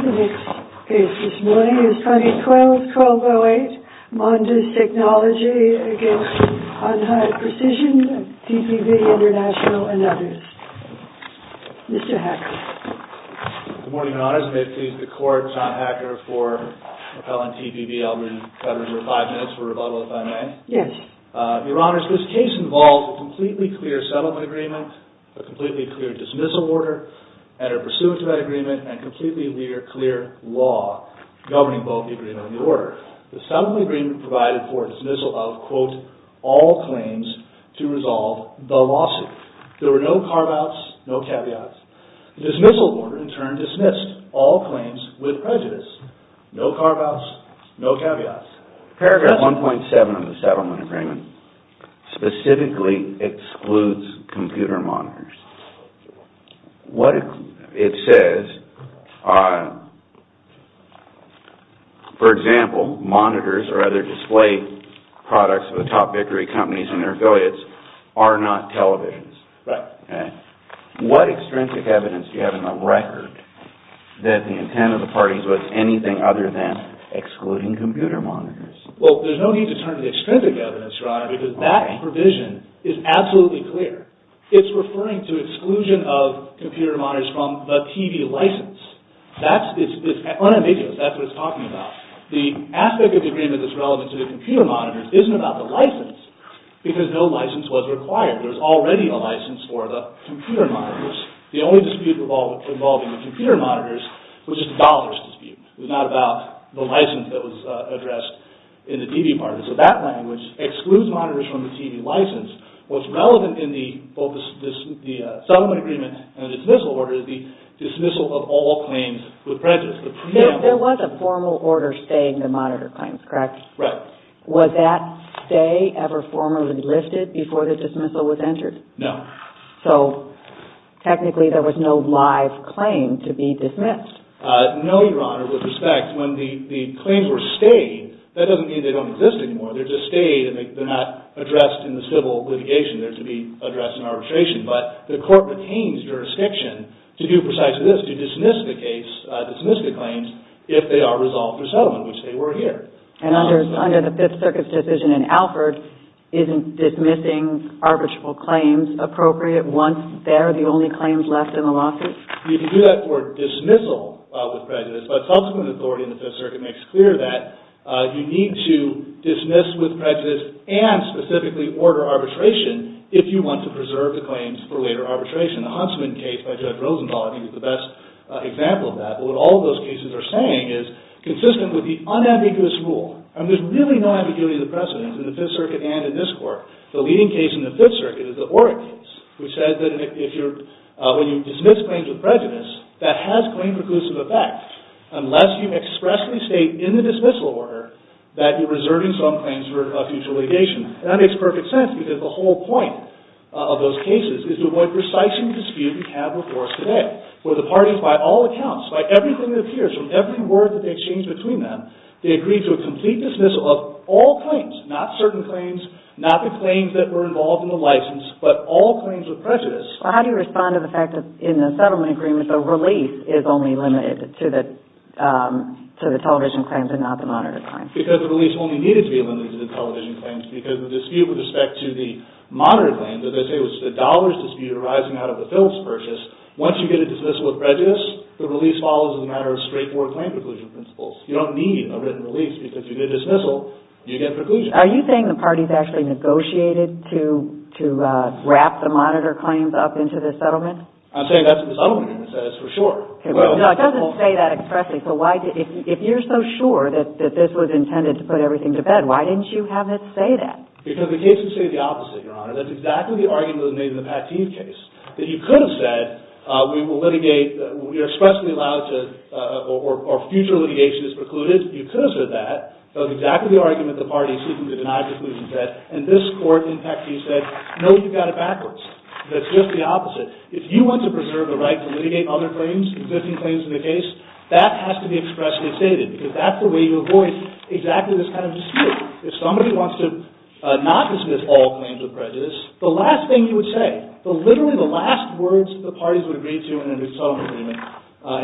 The next case this morning is 2012-2008 MONDIS TECH v. HON HAI PRECISION and TPP, International, and others. Mr. Hacker. Good morning, Your Honors. May it please the Court, John Hacker, for repelling TPP, I'll read the federal number five minutes for rebuttal if I may. Yes. Your Honors, this case involved a completely clear settlement agreement, a completely clear dismissal order, and a pursuant to that agreement and completely clear law governing both the agreement and the order. The settlement agreement provided for dismissal of, quote, all claims to resolve the lawsuit. There were no carve-outs, no caveats. The dismissal order, in turn, dismissed all claims with prejudice, no carve-outs, no caveats. Paragraph 1.7 of the settlement agreement specifically excludes computer monitors. It says, for example, monitors or other display products of the top bickering companies and their affiliates are not televisions. Right. What extrinsic evidence do you have in the record that the intent of the parties was anything other than excluding computer monitors? Well, there's no need to turn to the extrinsic evidence, Your Honor, because that provision is absolutely clear. It's referring to exclusion of computer monitors from the TV license. That's – it's unambiguous. That's what it's talking about. The aspect of the agreement that's relevant to the computer monitors isn't about the license because no license was required. There's already a license for the computer monitors. The only dispute involving the computer monitors was just the dollars dispute. It was not about the license that was addressed in the TV part. So that language excludes monitors from the TV license. What's relevant in both the settlement agreement and the dismissal order is the dismissal of all claims with prejudice. There was a formal order saying the monitor claims, correct? Right. Was that stay ever formally lifted before the dismissal was entered? No. So, technically, there was no live claim to be dismissed. No, Your Honor, with respect, when the claims were stayed, that doesn't mean they don't exist anymore. They're just stayed and they're not addressed in the civil litigation. They're to be addressed in arbitration. But the court retains jurisdiction to do precisely this, to dismiss the case, dismiss the claims, if they are resolved for settlement, which they were here. And under the Fifth Circuit's decision in Alford, isn't dismissing arbitral claims appropriate once they're the only claims left in the lawsuit? You can do that for dismissal with prejudice, but subsequent authority in the Fifth Circuit makes clear that you need to dismiss with prejudice and specifically order arbitration if you want to preserve the claims for later arbitration. The Huntsman case by Judge Rosenthal, I think, is the best example of that. But what all those cases are saying is consistent with the unambiguous rule. And there's really no ambiguity in the precedence in the Fifth Circuit and in this court. The leading case in the Fifth Circuit is the Orrick case, which says that when you dismiss claims with prejudice, that has claim preclusive effect, unless you expressly state in the dismissal order that you're reserving some claims for a future litigation. And that makes perfect sense because the whole point of those cases is to avoid precising dispute we have before us today, where the parties, by all accounts, by everything that appears, from every word that they exchange between them, they agree to a complete dismissal of all claims, not certain claims, not the claims that were involved in the license, but all claims with prejudice. Well, how do you respond to the fact that in the settlement agreement, the release is only limited to the television claims and not the monitor claims? Because the release only needed to be limited to the television claims because the dispute with respect to the monitor claims, as I say, was the dollars dispute arising out of the Philips purchase. Once you get a dismissal with prejudice, the release follows as a matter of straightforward claim preclusion principles. You don't need a written release because if you get a dismissal, you get preclusion. Are you saying the parties actually negotiated to wrap the monitor claims up into this settlement? I'm saying that's in the settlement agreement. That is for sure. No, it doesn't say that expressly. If you're so sure that this was intended to put everything to bed, why didn't you have it say that? Because the case would say the opposite, Your Honor. That's exactly the argument that was made in the Pateen case. That you could have said, we will litigate, we are expressly allowed to, or future litigation is precluded. You could have said that. That was exactly the argument the parties seeking to deny preclusion said. And this court in Pateen said, no, you've got it backwards. That's just the opposite. If you want to preserve the right to litigate other claims, existing claims in the case, that has to be expressly stated. Because that's the way you avoid exactly this kind of dispute. If somebody wants to not dismiss all claims of prejudice, the last thing you would say, literally the last words the parties would agree to in a new settlement agreement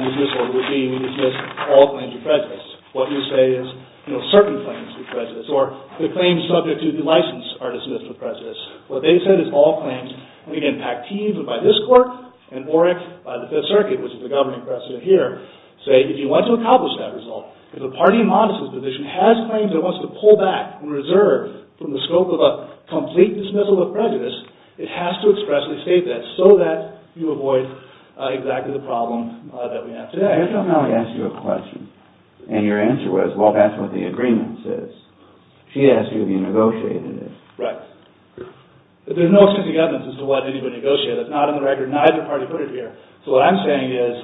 in this order would be, we dismiss all claims of prejudice. What you say is, you know, certain claims of prejudice. Or the claims subject to the license are dismissed with prejudice. What they said is all claims. And again, Pateen, but by this court, and Oreck by the Fifth Circuit, which is the governing precedent here, say, if you want to accomplish that result, if the party in Montes' position has claims that it wants to pull back and reserve from the scope of a complete dismissal of prejudice, it has to expressly state that so that you avoid exactly the problem that we have today. I just want to ask you a question. And your answer was, well, that's what the agreement says. She asked you if you negotiated it. Right. But there's no extensive evidence as to why I didn't even negotiate it. It's not in the record. Neither party put it here. So what I'm saying is,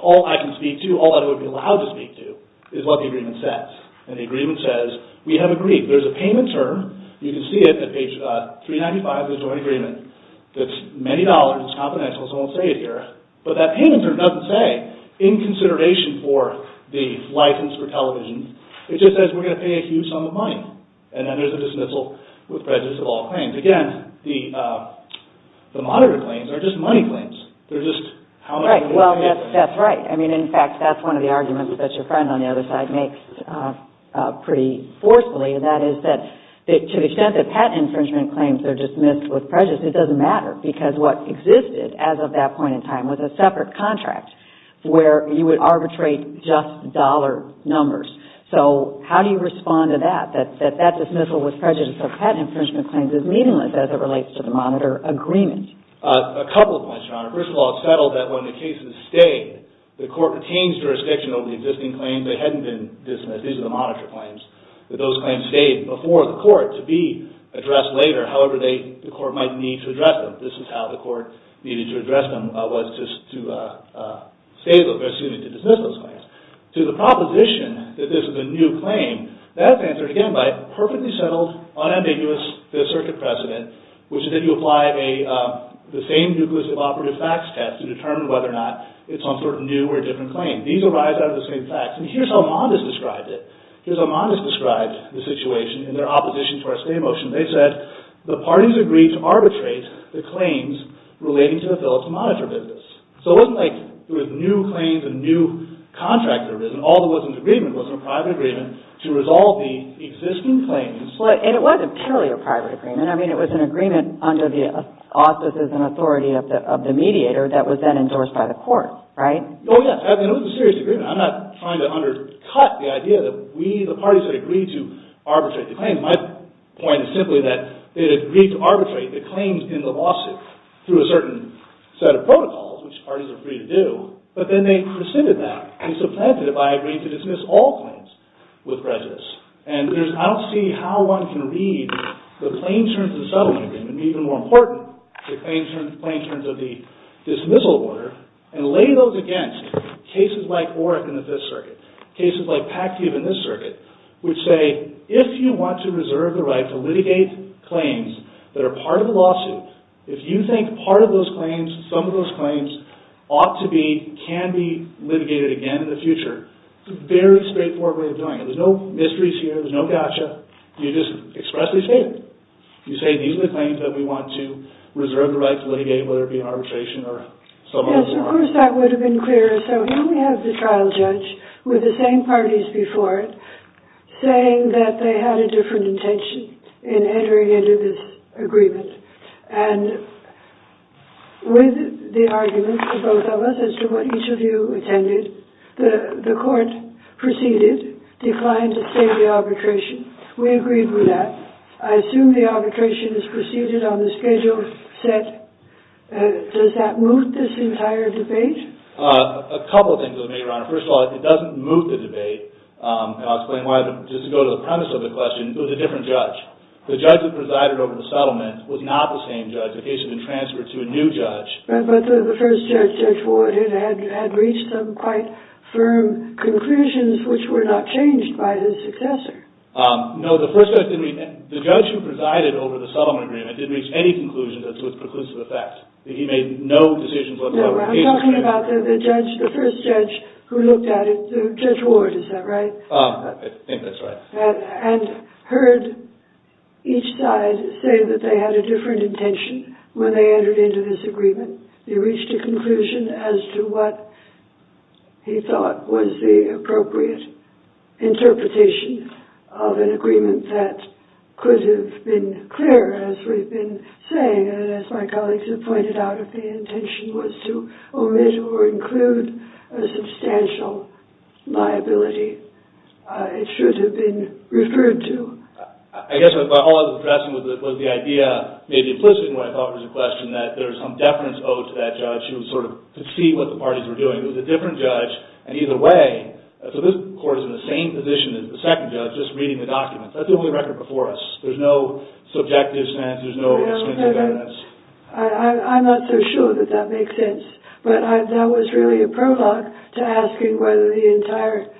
all I can speak to, all that I would be allowed to speak to, is what the agreement says. And the agreement says, we have agreed. There's a payment term. You can see it at page 395 of the joint agreement. It's many dollars. It's confidential, so I won't say it here. But that payment term doesn't say, in consideration for the license for television, it just says we're going to pay a huge sum of money. And then there's a dismissal with prejudice of all claims. Again, the monitor claims are just money claims. Right. Well, that's right. I mean, in fact, that's one of the arguments that your friend on the other side makes pretty forcefully, and that is that to the extent that patent infringement claims are dismissed with prejudice, it doesn't matter because what existed as of that point in time was a separate contract where you would arbitrate just dollar numbers. So how do you respond to that, that that dismissal with prejudice of patent infringement claims is meaningless as it relates to the monitor agreement? A couple of points, John. First of all, it's settled that when the cases stayed, the court retained jurisdiction over the existing claims. They hadn't been dismissed. These are the monitor claims, that those claims stayed before the court to be addressed later, however the court might need to address them. This is how the court needed to address them was to dismiss those claims. To the proposition that this is a new claim, that's answered, again, by perfectly settled, unambiguous Fifth Circuit precedent, which is that you apply the same nucleus of operative facts test to determine whether or not it's some sort of new or different claim. These arise out of the same facts, and here's how Mondes described it. Here's how Mondes described the situation in their opposition to our state motion. They said the parties agreed to arbitrate the claims relating to the Phillips monitor business. So it wasn't like there were new claims, a new contract that arisen. All there was in the agreement was a private agreement to resolve the existing claims. Well, and it wasn't purely a private agreement. I mean, it was an agreement under the auspices and authority of the mediator that was then endorsed by the court, right? Oh, yes. I mean, it was a serious agreement. I'm not trying to undercut the idea that we, the parties, had agreed to arbitrate the claims. My point is simply that they had agreed to arbitrate the claims in the lawsuit through a certain set of protocols, which parties are free to do, but then they rescinded that and supplanted it by agreeing to dismiss all claims with prejudice. And I don't see how one can read the claims terms of the settlement agreement, and even more important, the claims terms of the dismissal order, and lay those against cases like OREC in the Fifth Circuit, cases like PACTV in this circuit, which say, if you want to reserve the right to litigate claims that are part of the lawsuit, if you think part of those claims, some of those claims, ought to be, can be litigated again in the future, it's a very straightforward way of doing it. There's no mysteries here, there's no gotcha. You just expressly state it. You say, these are the claims that we want to reserve the right to litigate, whether it be an arbitration or a settlement. Yes, of course, that would have been clearer. So here we have the trial judge with the same parties before it saying that they had a different intention in entering into this agreement. And with the arguments of both of us as to what each of you attended, the court proceeded, declined to stay in the arbitration. We agreed with that. I assume the arbitration is proceeded on the schedule set. Does that move this entire debate? A couple of things, Your Honor. First of all, it doesn't move the debate. And I'll explain why. Just to go to the premise of the question, it was a different judge. The judge that presided over the settlement was not the same judge. The case had been transferred to a new judge. But the first judge, Judge Ward, had reached some quite firm conclusions which were not changed by his successor. No, the first judge didn't. The judge who presided over the settlement agreement didn't reach any conclusions as to its preclusive effect. He made no decisions whatsoever. No, I'm talking about the first judge who looked at it, Judge Ward, is that right? I think that's right. And heard each side say that they had a different intention when they entered into this agreement. He reached a conclusion as to what he thought was the appropriate interpretation of an agreement that could have been clear, as we've been saying, and as my colleagues have pointed out, if the intention was to omit or include a substantial liability, it should have been referred to. I guess what I was addressing was the idea, maybe implicit in what I thought was the question, that there was some deference owed to that judge to see what the parties were doing. It was a different judge, and either way, so this court is in the same position as the second judge, just reading the documents. That's the only record before us. There's no subjective sense. There's no substantive evidence. I'm not so sure that that makes sense. But that was really a prologue to asking whether the entire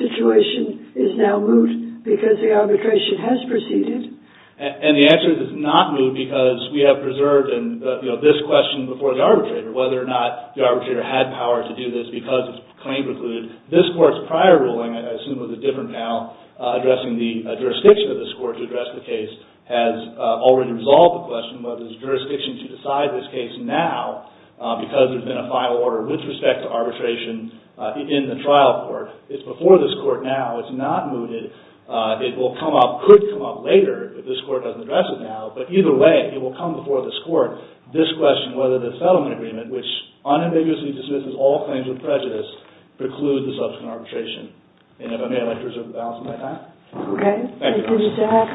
situation is now moot because the arbitration has proceeded. And the answer is it's not moot because we have preserved this question before the arbitrator, whether or not the arbitrator had power to do this because its claim precluded. This court's prior ruling, I assume it was a different panel, addressing the jurisdiction of this court to address the case, has already resolved the question, whether there's jurisdiction to decide this case now because there's been a final order with respect to arbitration in the trial court. It's before this court now. It's not mooted. It could come up later if this court doesn't address it now. But either way, it will come before this court, this question whether the settlement agreement, which unambiguously dismisses all claims of prejudice, precludes the subsequent arbitration. And if I may, I'd like to reserve the balance of my time. Okay. Thank you, Your Honor. Thank you, Mr. Hackett.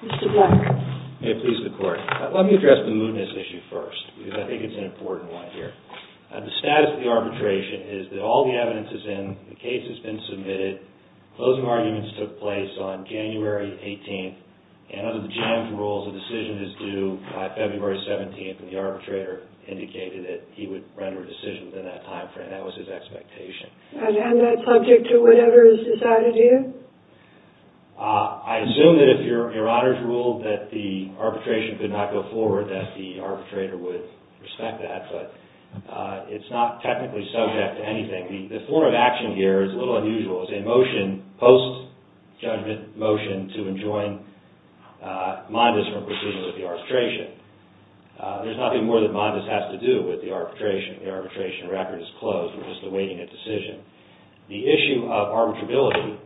Mr. Black. May it please the Court. Let me address the mootness issue first because I think it's an important one here. The status of the arbitration is that all the evidence is in. The case has been submitted. Closing arguments took place on January 18th. And under the GM's rules, a decision is due by February 17th, and the arbitrator indicated that he would render a decision within that time frame. That was his expectation. And that's subject to whatever is decided here? I assume that if Your Honor's ruled that the arbitration could not go forward, that the arbitrator would respect that, but it's not technically subject to anything. The form of action here is a little unusual. It's a motion, post-judgment motion, to enjoin Mondes from proceeding with the arbitration. There's nothing more that Mondes has to do with the arbitration. The arbitration record is closed. We're just awaiting a decision. The issue of arbitrability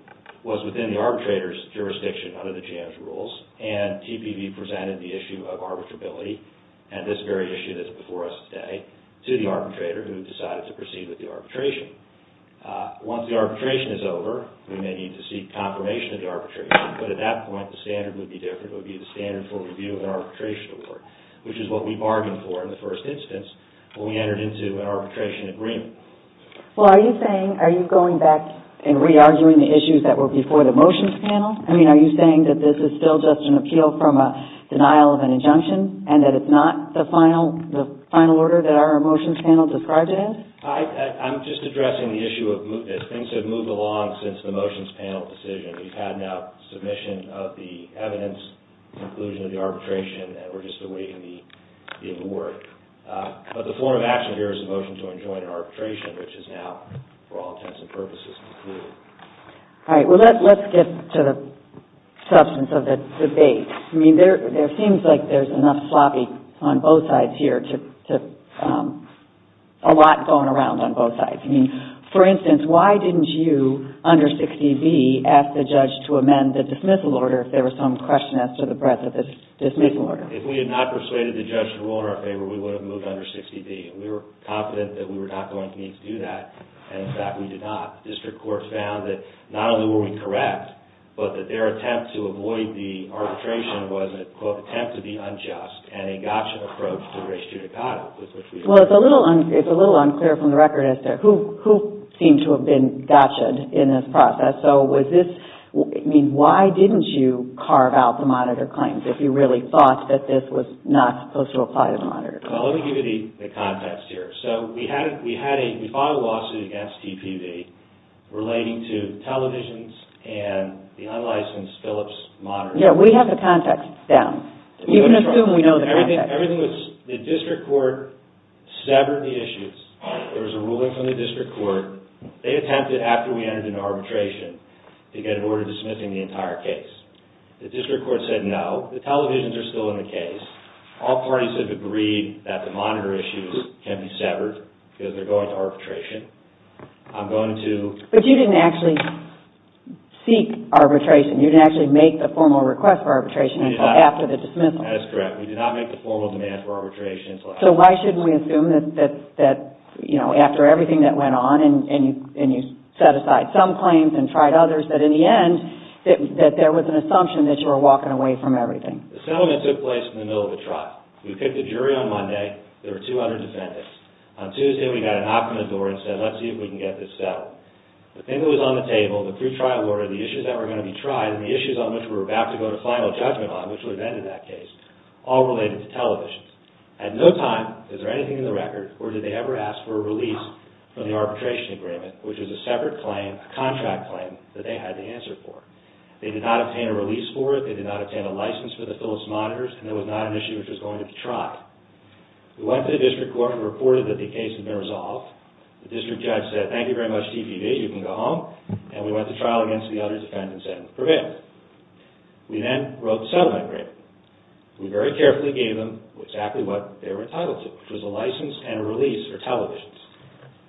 was within the arbitrator's jurisdiction under the GM's rules, and TPB presented the issue of arbitrability, and this very issue that's before us today, to the arbitrator, who decided to proceed with the arbitration. Once the arbitration is over, we may need to seek confirmation of the arbitration. But at that point, the standard would be different. It would be the standard for review of an arbitration award, which is what we bargained for in the first instance when we entered into an arbitration agreement. Well, are you saying, are you going back and re-arguing the issues that were before the motions panel? I mean, are you saying that this is still just an appeal from a denial of an injunction, and that it's not the final order that our motions panel described it as? I'm just addressing the issue of things have moved along since the motions panel decision. We've had now submission of the evidence, conclusion of the arbitration, and we're just awaiting the award. But the form of action here is a motion to enjoin arbitration, which is now, for all intents and purposes, concluded. All right. Well, let's get to the substance of the debate. I mean, there seems like there's enough sloppy on both sides here, a lot going around on both sides. I mean, for instance, why didn't you, under 60B, ask the judge to amend the dismissal order if there was some question as to the breadth of the dismissal order? If we had not persuaded the judge to rule in our favor, we would have moved under 60B. We were confident that we were not going to need to do that, and in fact, we did not. The district court found that not only were we correct, but that their attempt to avoid the arbitration was an attempt to be unjust and a gotcha approach to race judicata. Well, it's a little unclear from the record as to who seemed to have been gotcha-ed in this process. So was this – I mean, why didn't you carve out the monitor claims if you really thought that this was not supposed to apply to the monitor claims? Well, let me give you the context here. So we had a – we filed a lawsuit against TPB relating to televisions and the unlicensed Philips monitor. Yeah, we have the context down. You can assume we know the context. Everything was – the district court severed the issues. There was a ruling from the district court. They attempted, after we entered into arbitration, to get an order dismissing the entire case. The district court said no. The televisions are still in the case. All parties have agreed that the monitor issues can be severed because they're going to arbitration. I'm going to – But you didn't actually seek arbitration. You didn't actually make the formal request for arbitration until after the dismissal. That is correct. We did not make the formal demand for arbitration until after the dismissal. So why shouldn't we assume that, you know, after everything that went on and you set aside some claims and tried others, that in the end there was an assumption that you were walking away from everything? The settlement took place in the middle of a trial. We picked a jury on Monday. There were 200 defendants. On Tuesday, we got a knock on the door and said, let's see if we can get this settled. The thing that was on the table, the pre-trial order, the issues that were going to be tried, and the issues on which we were about to go to final judgment on, which would have ended that case, all related to televisions. At no time is there anything in the record or did they ever ask for a release from the arbitration agreement, which was a separate claim, a contract claim, that they had to answer for. They did not obtain a release for it. They did not obtain a license for the Philips monitors, and there was not an issue which was going to be tried. We went to the district court and reported that the case had been resolved. The district judge said, thank you very much, DPB, you can go home, and we went to trial against the other defendants and prevailed. We then wrote the settlement agreement. We very carefully gave them exactly what they were entitled to, which was a license and a release for televisions.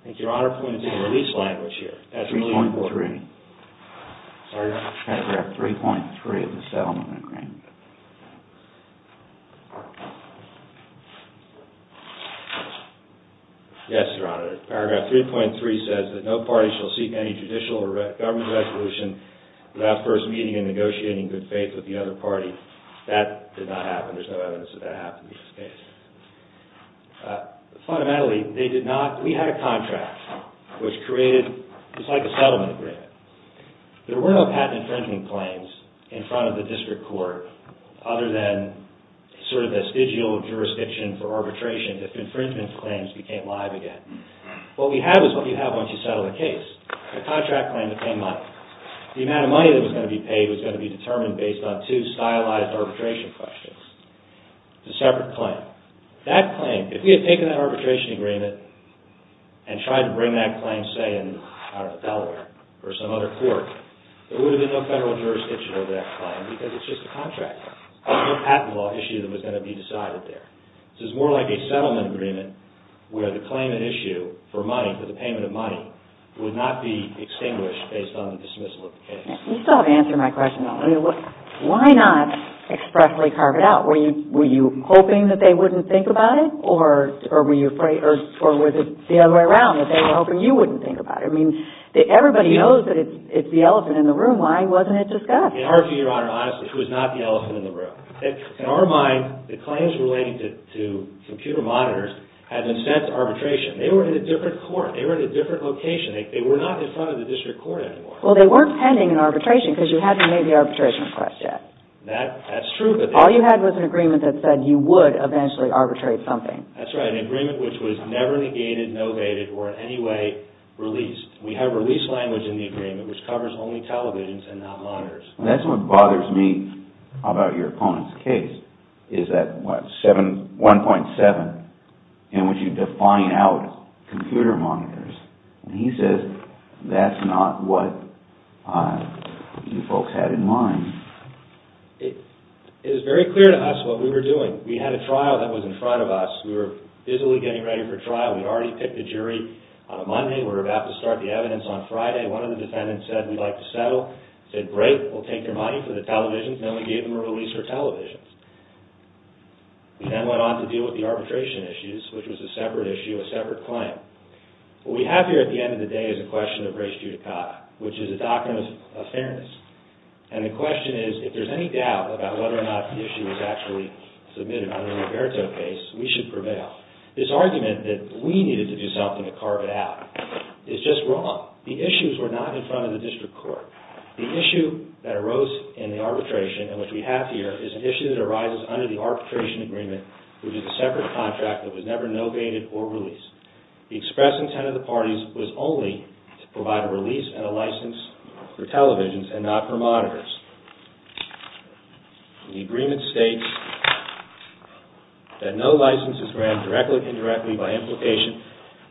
I think Your Honor pointed to the release language here. That's really important. Paragraph 3.3 of the settlement agreement. Yes, Your Honor. Paragraph 3.3 says that no party shall seek any judicial or government resolution without first meeting and negotiating good faith with the other party. That did not happen. There's no evidence that that happened in this case. Fundamentally, they did not. We had a contract which created just like a settlement agreement. There were no patent infringement claims in front of the district court other than sort of vestigial jurisdiction for arbitration that infringement claims became live again. What we have is what you have once you settle a case, a contract claim to pay money. The amount of money that was going to be paid was going to be determined based on two stylized arbitration questions. It's a separate claim. That claim, if we had taken that arbitration agreement and tried to bring that claim, say, out of Delaware or some other court, there would have been no federal jurisdiction over that claim because it's just a contract. There was no patent law issue that was going to be decided there. This is more like a settlement agreement where the claimant issue for money, for the payment of money, would not be extinguished based on the dismissal of the case. You still haven't answered my question, though. Why not expressly carve it out? Were you hoping that they wouldn't think about it, or was it the other way around, that they were hoping you wouldn't think about it? Everybody knows that it's the elephant in the room. Why wasn't it discussed? In our view, Your Honor, honestly, it was not the elephant in the room. In our mind, the claims relating to computer monitors had been sent to arbitration. They were in a different court. They were in a different location. They were not in front of the district court anymore. Well, they weren't pending an arbitration because you hadn't made the arbitration request yet. That's true. All you had was an agreement that said you would eventually arbitrate something. That's right. An agreement which was never negated, novated, or in any way released. We have release language in the agreement which covers only televisions and not monitors. That's what bothers me about your opponent's case, is that 1.7 in which you define out computer monitors. He says that's not what you folks had in mind. It is very clear to us what we were doing. We had a trial that was in front of us. We were busily getting ready for trial. We'd already picked a jury on a Monday. We were about to start the evidence on Friday. One of the defendants said, we'd like to settle. We said, great. We'll take your money for the televisions. Then we gave them a release for televisions. We then went on to deal with the arbitration issues, which was a separate issue, a separate claim. What we have here at the end of the day is a question of res judicata, which is a doctrine of fairness. The question is, if there's any doubt about whether or not the issue was actually submitted under the Roberto case, we should prevail. This argument that we needed to do something to carve it out is just wrong. The issues were not in front of the district court. The issue that arose in the arbitration, and which we have here, is an issue that arises under the arbitration agreement, which is a separate contract that was never novated or released. The express intent of the parties was only to provide a release and a license for televisions and not for monitors. The agreement states that no license is granted, directly or indirectly, by implication,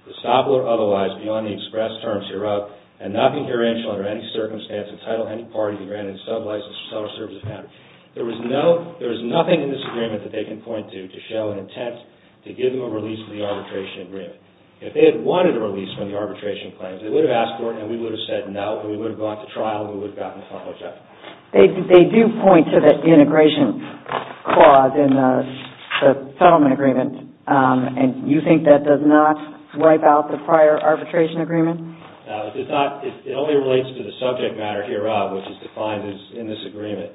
for estoppel or otherwise, beyond the express terms hereof, and not concurrential under any circumstance entitled to any party to grant any sub-license or sub-service of matter. There is nothing in this agreement that they can point to to show an intent to give them a release from the arbitration agreement. If they had wanted a release from the arbitration claims, they would have asked for it, and we would have said no. We would have gone to trial, and we would have gotten a follow-up check. They do point to the integration clause in the settlement agreement, and you think that does not wipe out the prior arbitration agreement? No, it does not. It only relates to the subject matter hereof, which is defined in this agreement.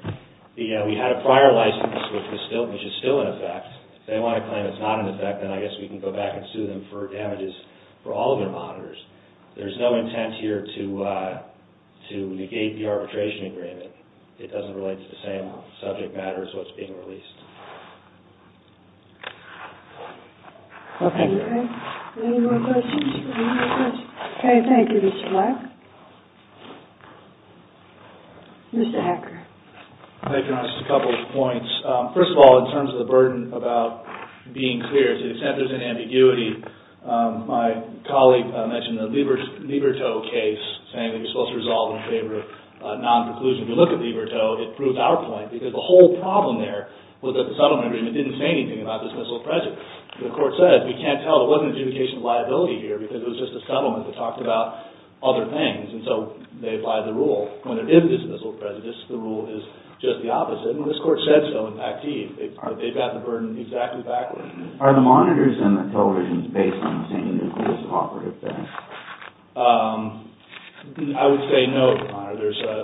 We had a prior license, which is still in effect. If they want to claim it's not in effect, then I guess we can go back and sue them for damages for all of their monitors. There is no intent here to negate the arbitration agreement. It doesn't relate to the same subject matter as what's being released. Okay. Any more questions? Any more questions? Okay, thank you, Mr. Black. Mr. Hacker. Thank you, Honest. A couple of points. First of all, in terms of the burden about being clear, to the extent there's an ambiguity, my colleague mentioned the Liberto case, saying that you're supposed to resolve in favor of non-preclusion. If you look at Liberto, it proves our point, because the whole problem there was that the settlement agreement didn't say anything about dismissal of prejudice. The court said, we can't tell. There wasn't an adjudication of liability here because it was just a settlement that talked about other things, and so they applied the rule. When there is dismissal of prejudice, the rule is just the opposite, and this court said so in Pactide. They've got the burden exactly backwards. Are the monitors in the television based on the same nucleus of operative facts? I would say no, there's a...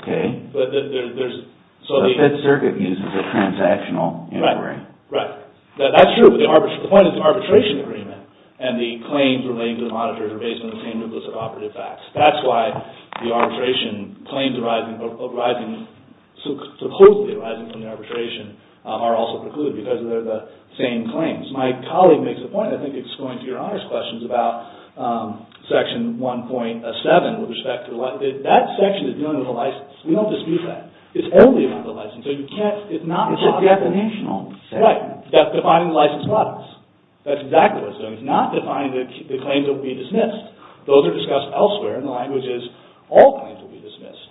Okay. But there's... The Fed Circuit uses a transactional inquiry. Right, right. That's true, but the point is the arbitration agreement and the claims relating to the monitors are based on the same nucleus of operative facts. That's why the arbitration claims arising... supposedly arising from the arbitration are also precluded because they're the same claims. My colleague makes a point, I think it's going to your honors questions about section 1.7 with respect to... That section is dealing with a license. We don't dispute that. It's only about the license, so you can't... It's not... It's a definitional section. Right. That's defining license products. That's exactly what it's doing. It's not defining the claims that will be dismissed. Those are discussed elsewhere and the language is all claims will be dismissed.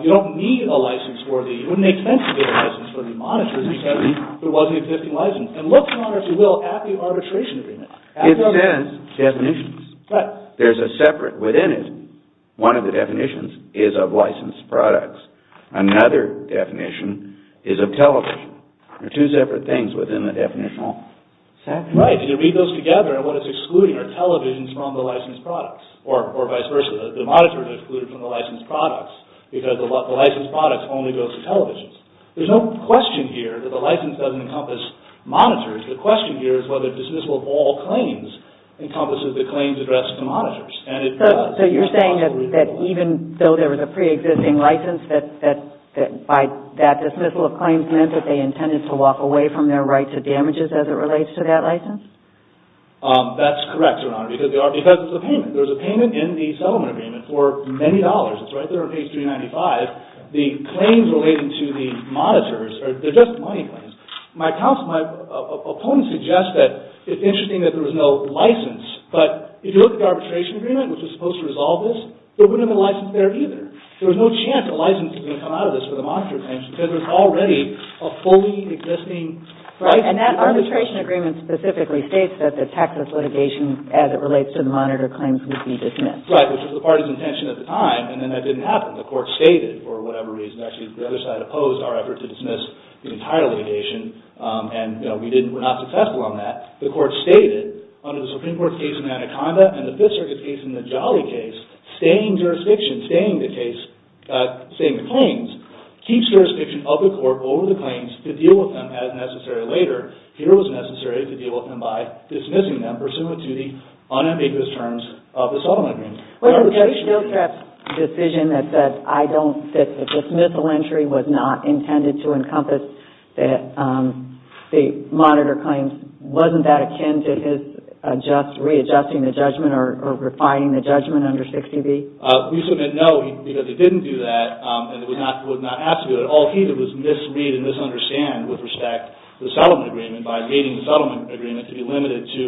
You don't need a license for the... It wouldn't make sense to get a license for the monitors because there wasn't an existing license. And look, your honor, if you will, at the arbitration agreement. It says definitions. Right. There's a separate... Within it, one of the definitions is of licensed products. Another definition is of television. There are two separate things within the definitional section. Right, and you read those together and what it's excluding are televisions from the licensed products or vice versa. The monitors are excluded from the licensed products because the licensed products only go to televisions. There's no question here that the license doesn't encompass monitors. The question here is whether dismissal of all claims encompasses the claims addressed to monitors and it does. So you're saying that even though there was a pre-existing license that by that dismissal of claims meant that they intended to walk away from their right to damages as it relates to that license? That's correct, your honor, because it's a payment. There's a payment in the settlement agreement for many dollars. It's right there on page 395. The claims relating to the monitors are just money claims. My opponent suggests that it's interesting that there was no license, but if you look at the arbitration agreement which was supposed to resolve this, there wouldn't have been a license there either. There was no chance a license was going to come out of this for the monitor claims because there's already a fully existing license. Right, and that arbitration agreement specifically states that the Texas litigation as it relates to the monitor claims would be dismissed. Right, which was the party's intention at the time and then that didn't happen. The court stated for whatever reason, actually the other side opposed our effort to dismiss the entire litigation and we were not successful on that. The court stated under the Supreme Court's case in Anaconda and the Fifth Circuit's case in the Jolly case, staying jurisdiction, staying the case, staying the claims, keeps jurisdiction of the court over the claims to deal with them as necessary later. Here it was necessary to deal with them by dismissing them pursuant to the unambiguous terms of the settlement agreement. Well, Judge Dillstrup's decision that said I don't see that the dismissal entry was not intended to encompass the monitor claims, wasn't that akin to his readjusting the judgment or refining the judgment under 60B? We submit no because it didn't do that and it was not asked to do it. All he did was misread and misunderstand with respect to the settlement agreement by reading the settlement agreement to be limited to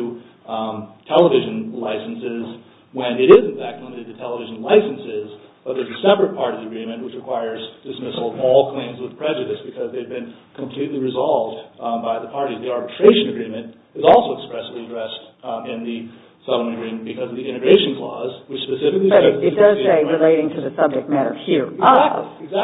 television licenses when it is, in fact, limited to television licenses but there's a separate part of the agreement which requires dismissal of all claims with prejudice because they've been completely resolved by the parties. The arbitration agreement is also expressly addressed in the settlement agreement because of the integration clause which specifically says... But it does say relating to the subject matter here of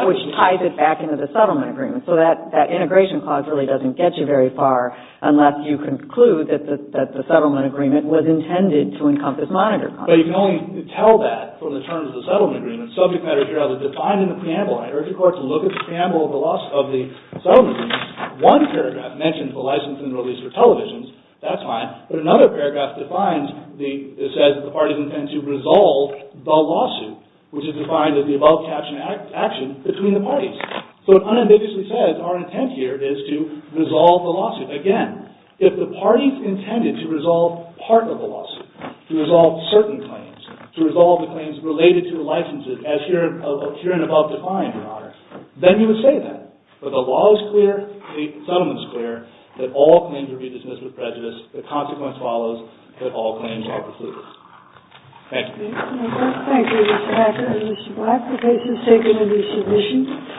which ties it back into the settlement agreement so that integration clause really doesn't get you very far unless you conclude that the settlement agreement was intended to encompass monitor content. But you can only tell that from the terms of the settlement agreement. Subject matter here is defined in the preamble. I urge the court to look at the preamble of the settlement agreement. One paragraph mentions the license and release for televisions. That's fine. But another paragraph defines the... It says the parties intend to resolve the lawsuit which is defined as the above captioned action between the parties. So it unambiguously says our intent here is to resolve the lawsuit. Again, if the parties intended to resolve part of the lawsuit, to resolve certain claims, to resolve the claims related to licenses as here and above define, Your Honor, then you would say that. But the law is clear, the settlement is clear, that all claims will be dismissed with prejudice. The consequence follows that all claims are concluded. Thank you. Thank you, Mr. Hacker. Mr. Black, the case is seconded as submission.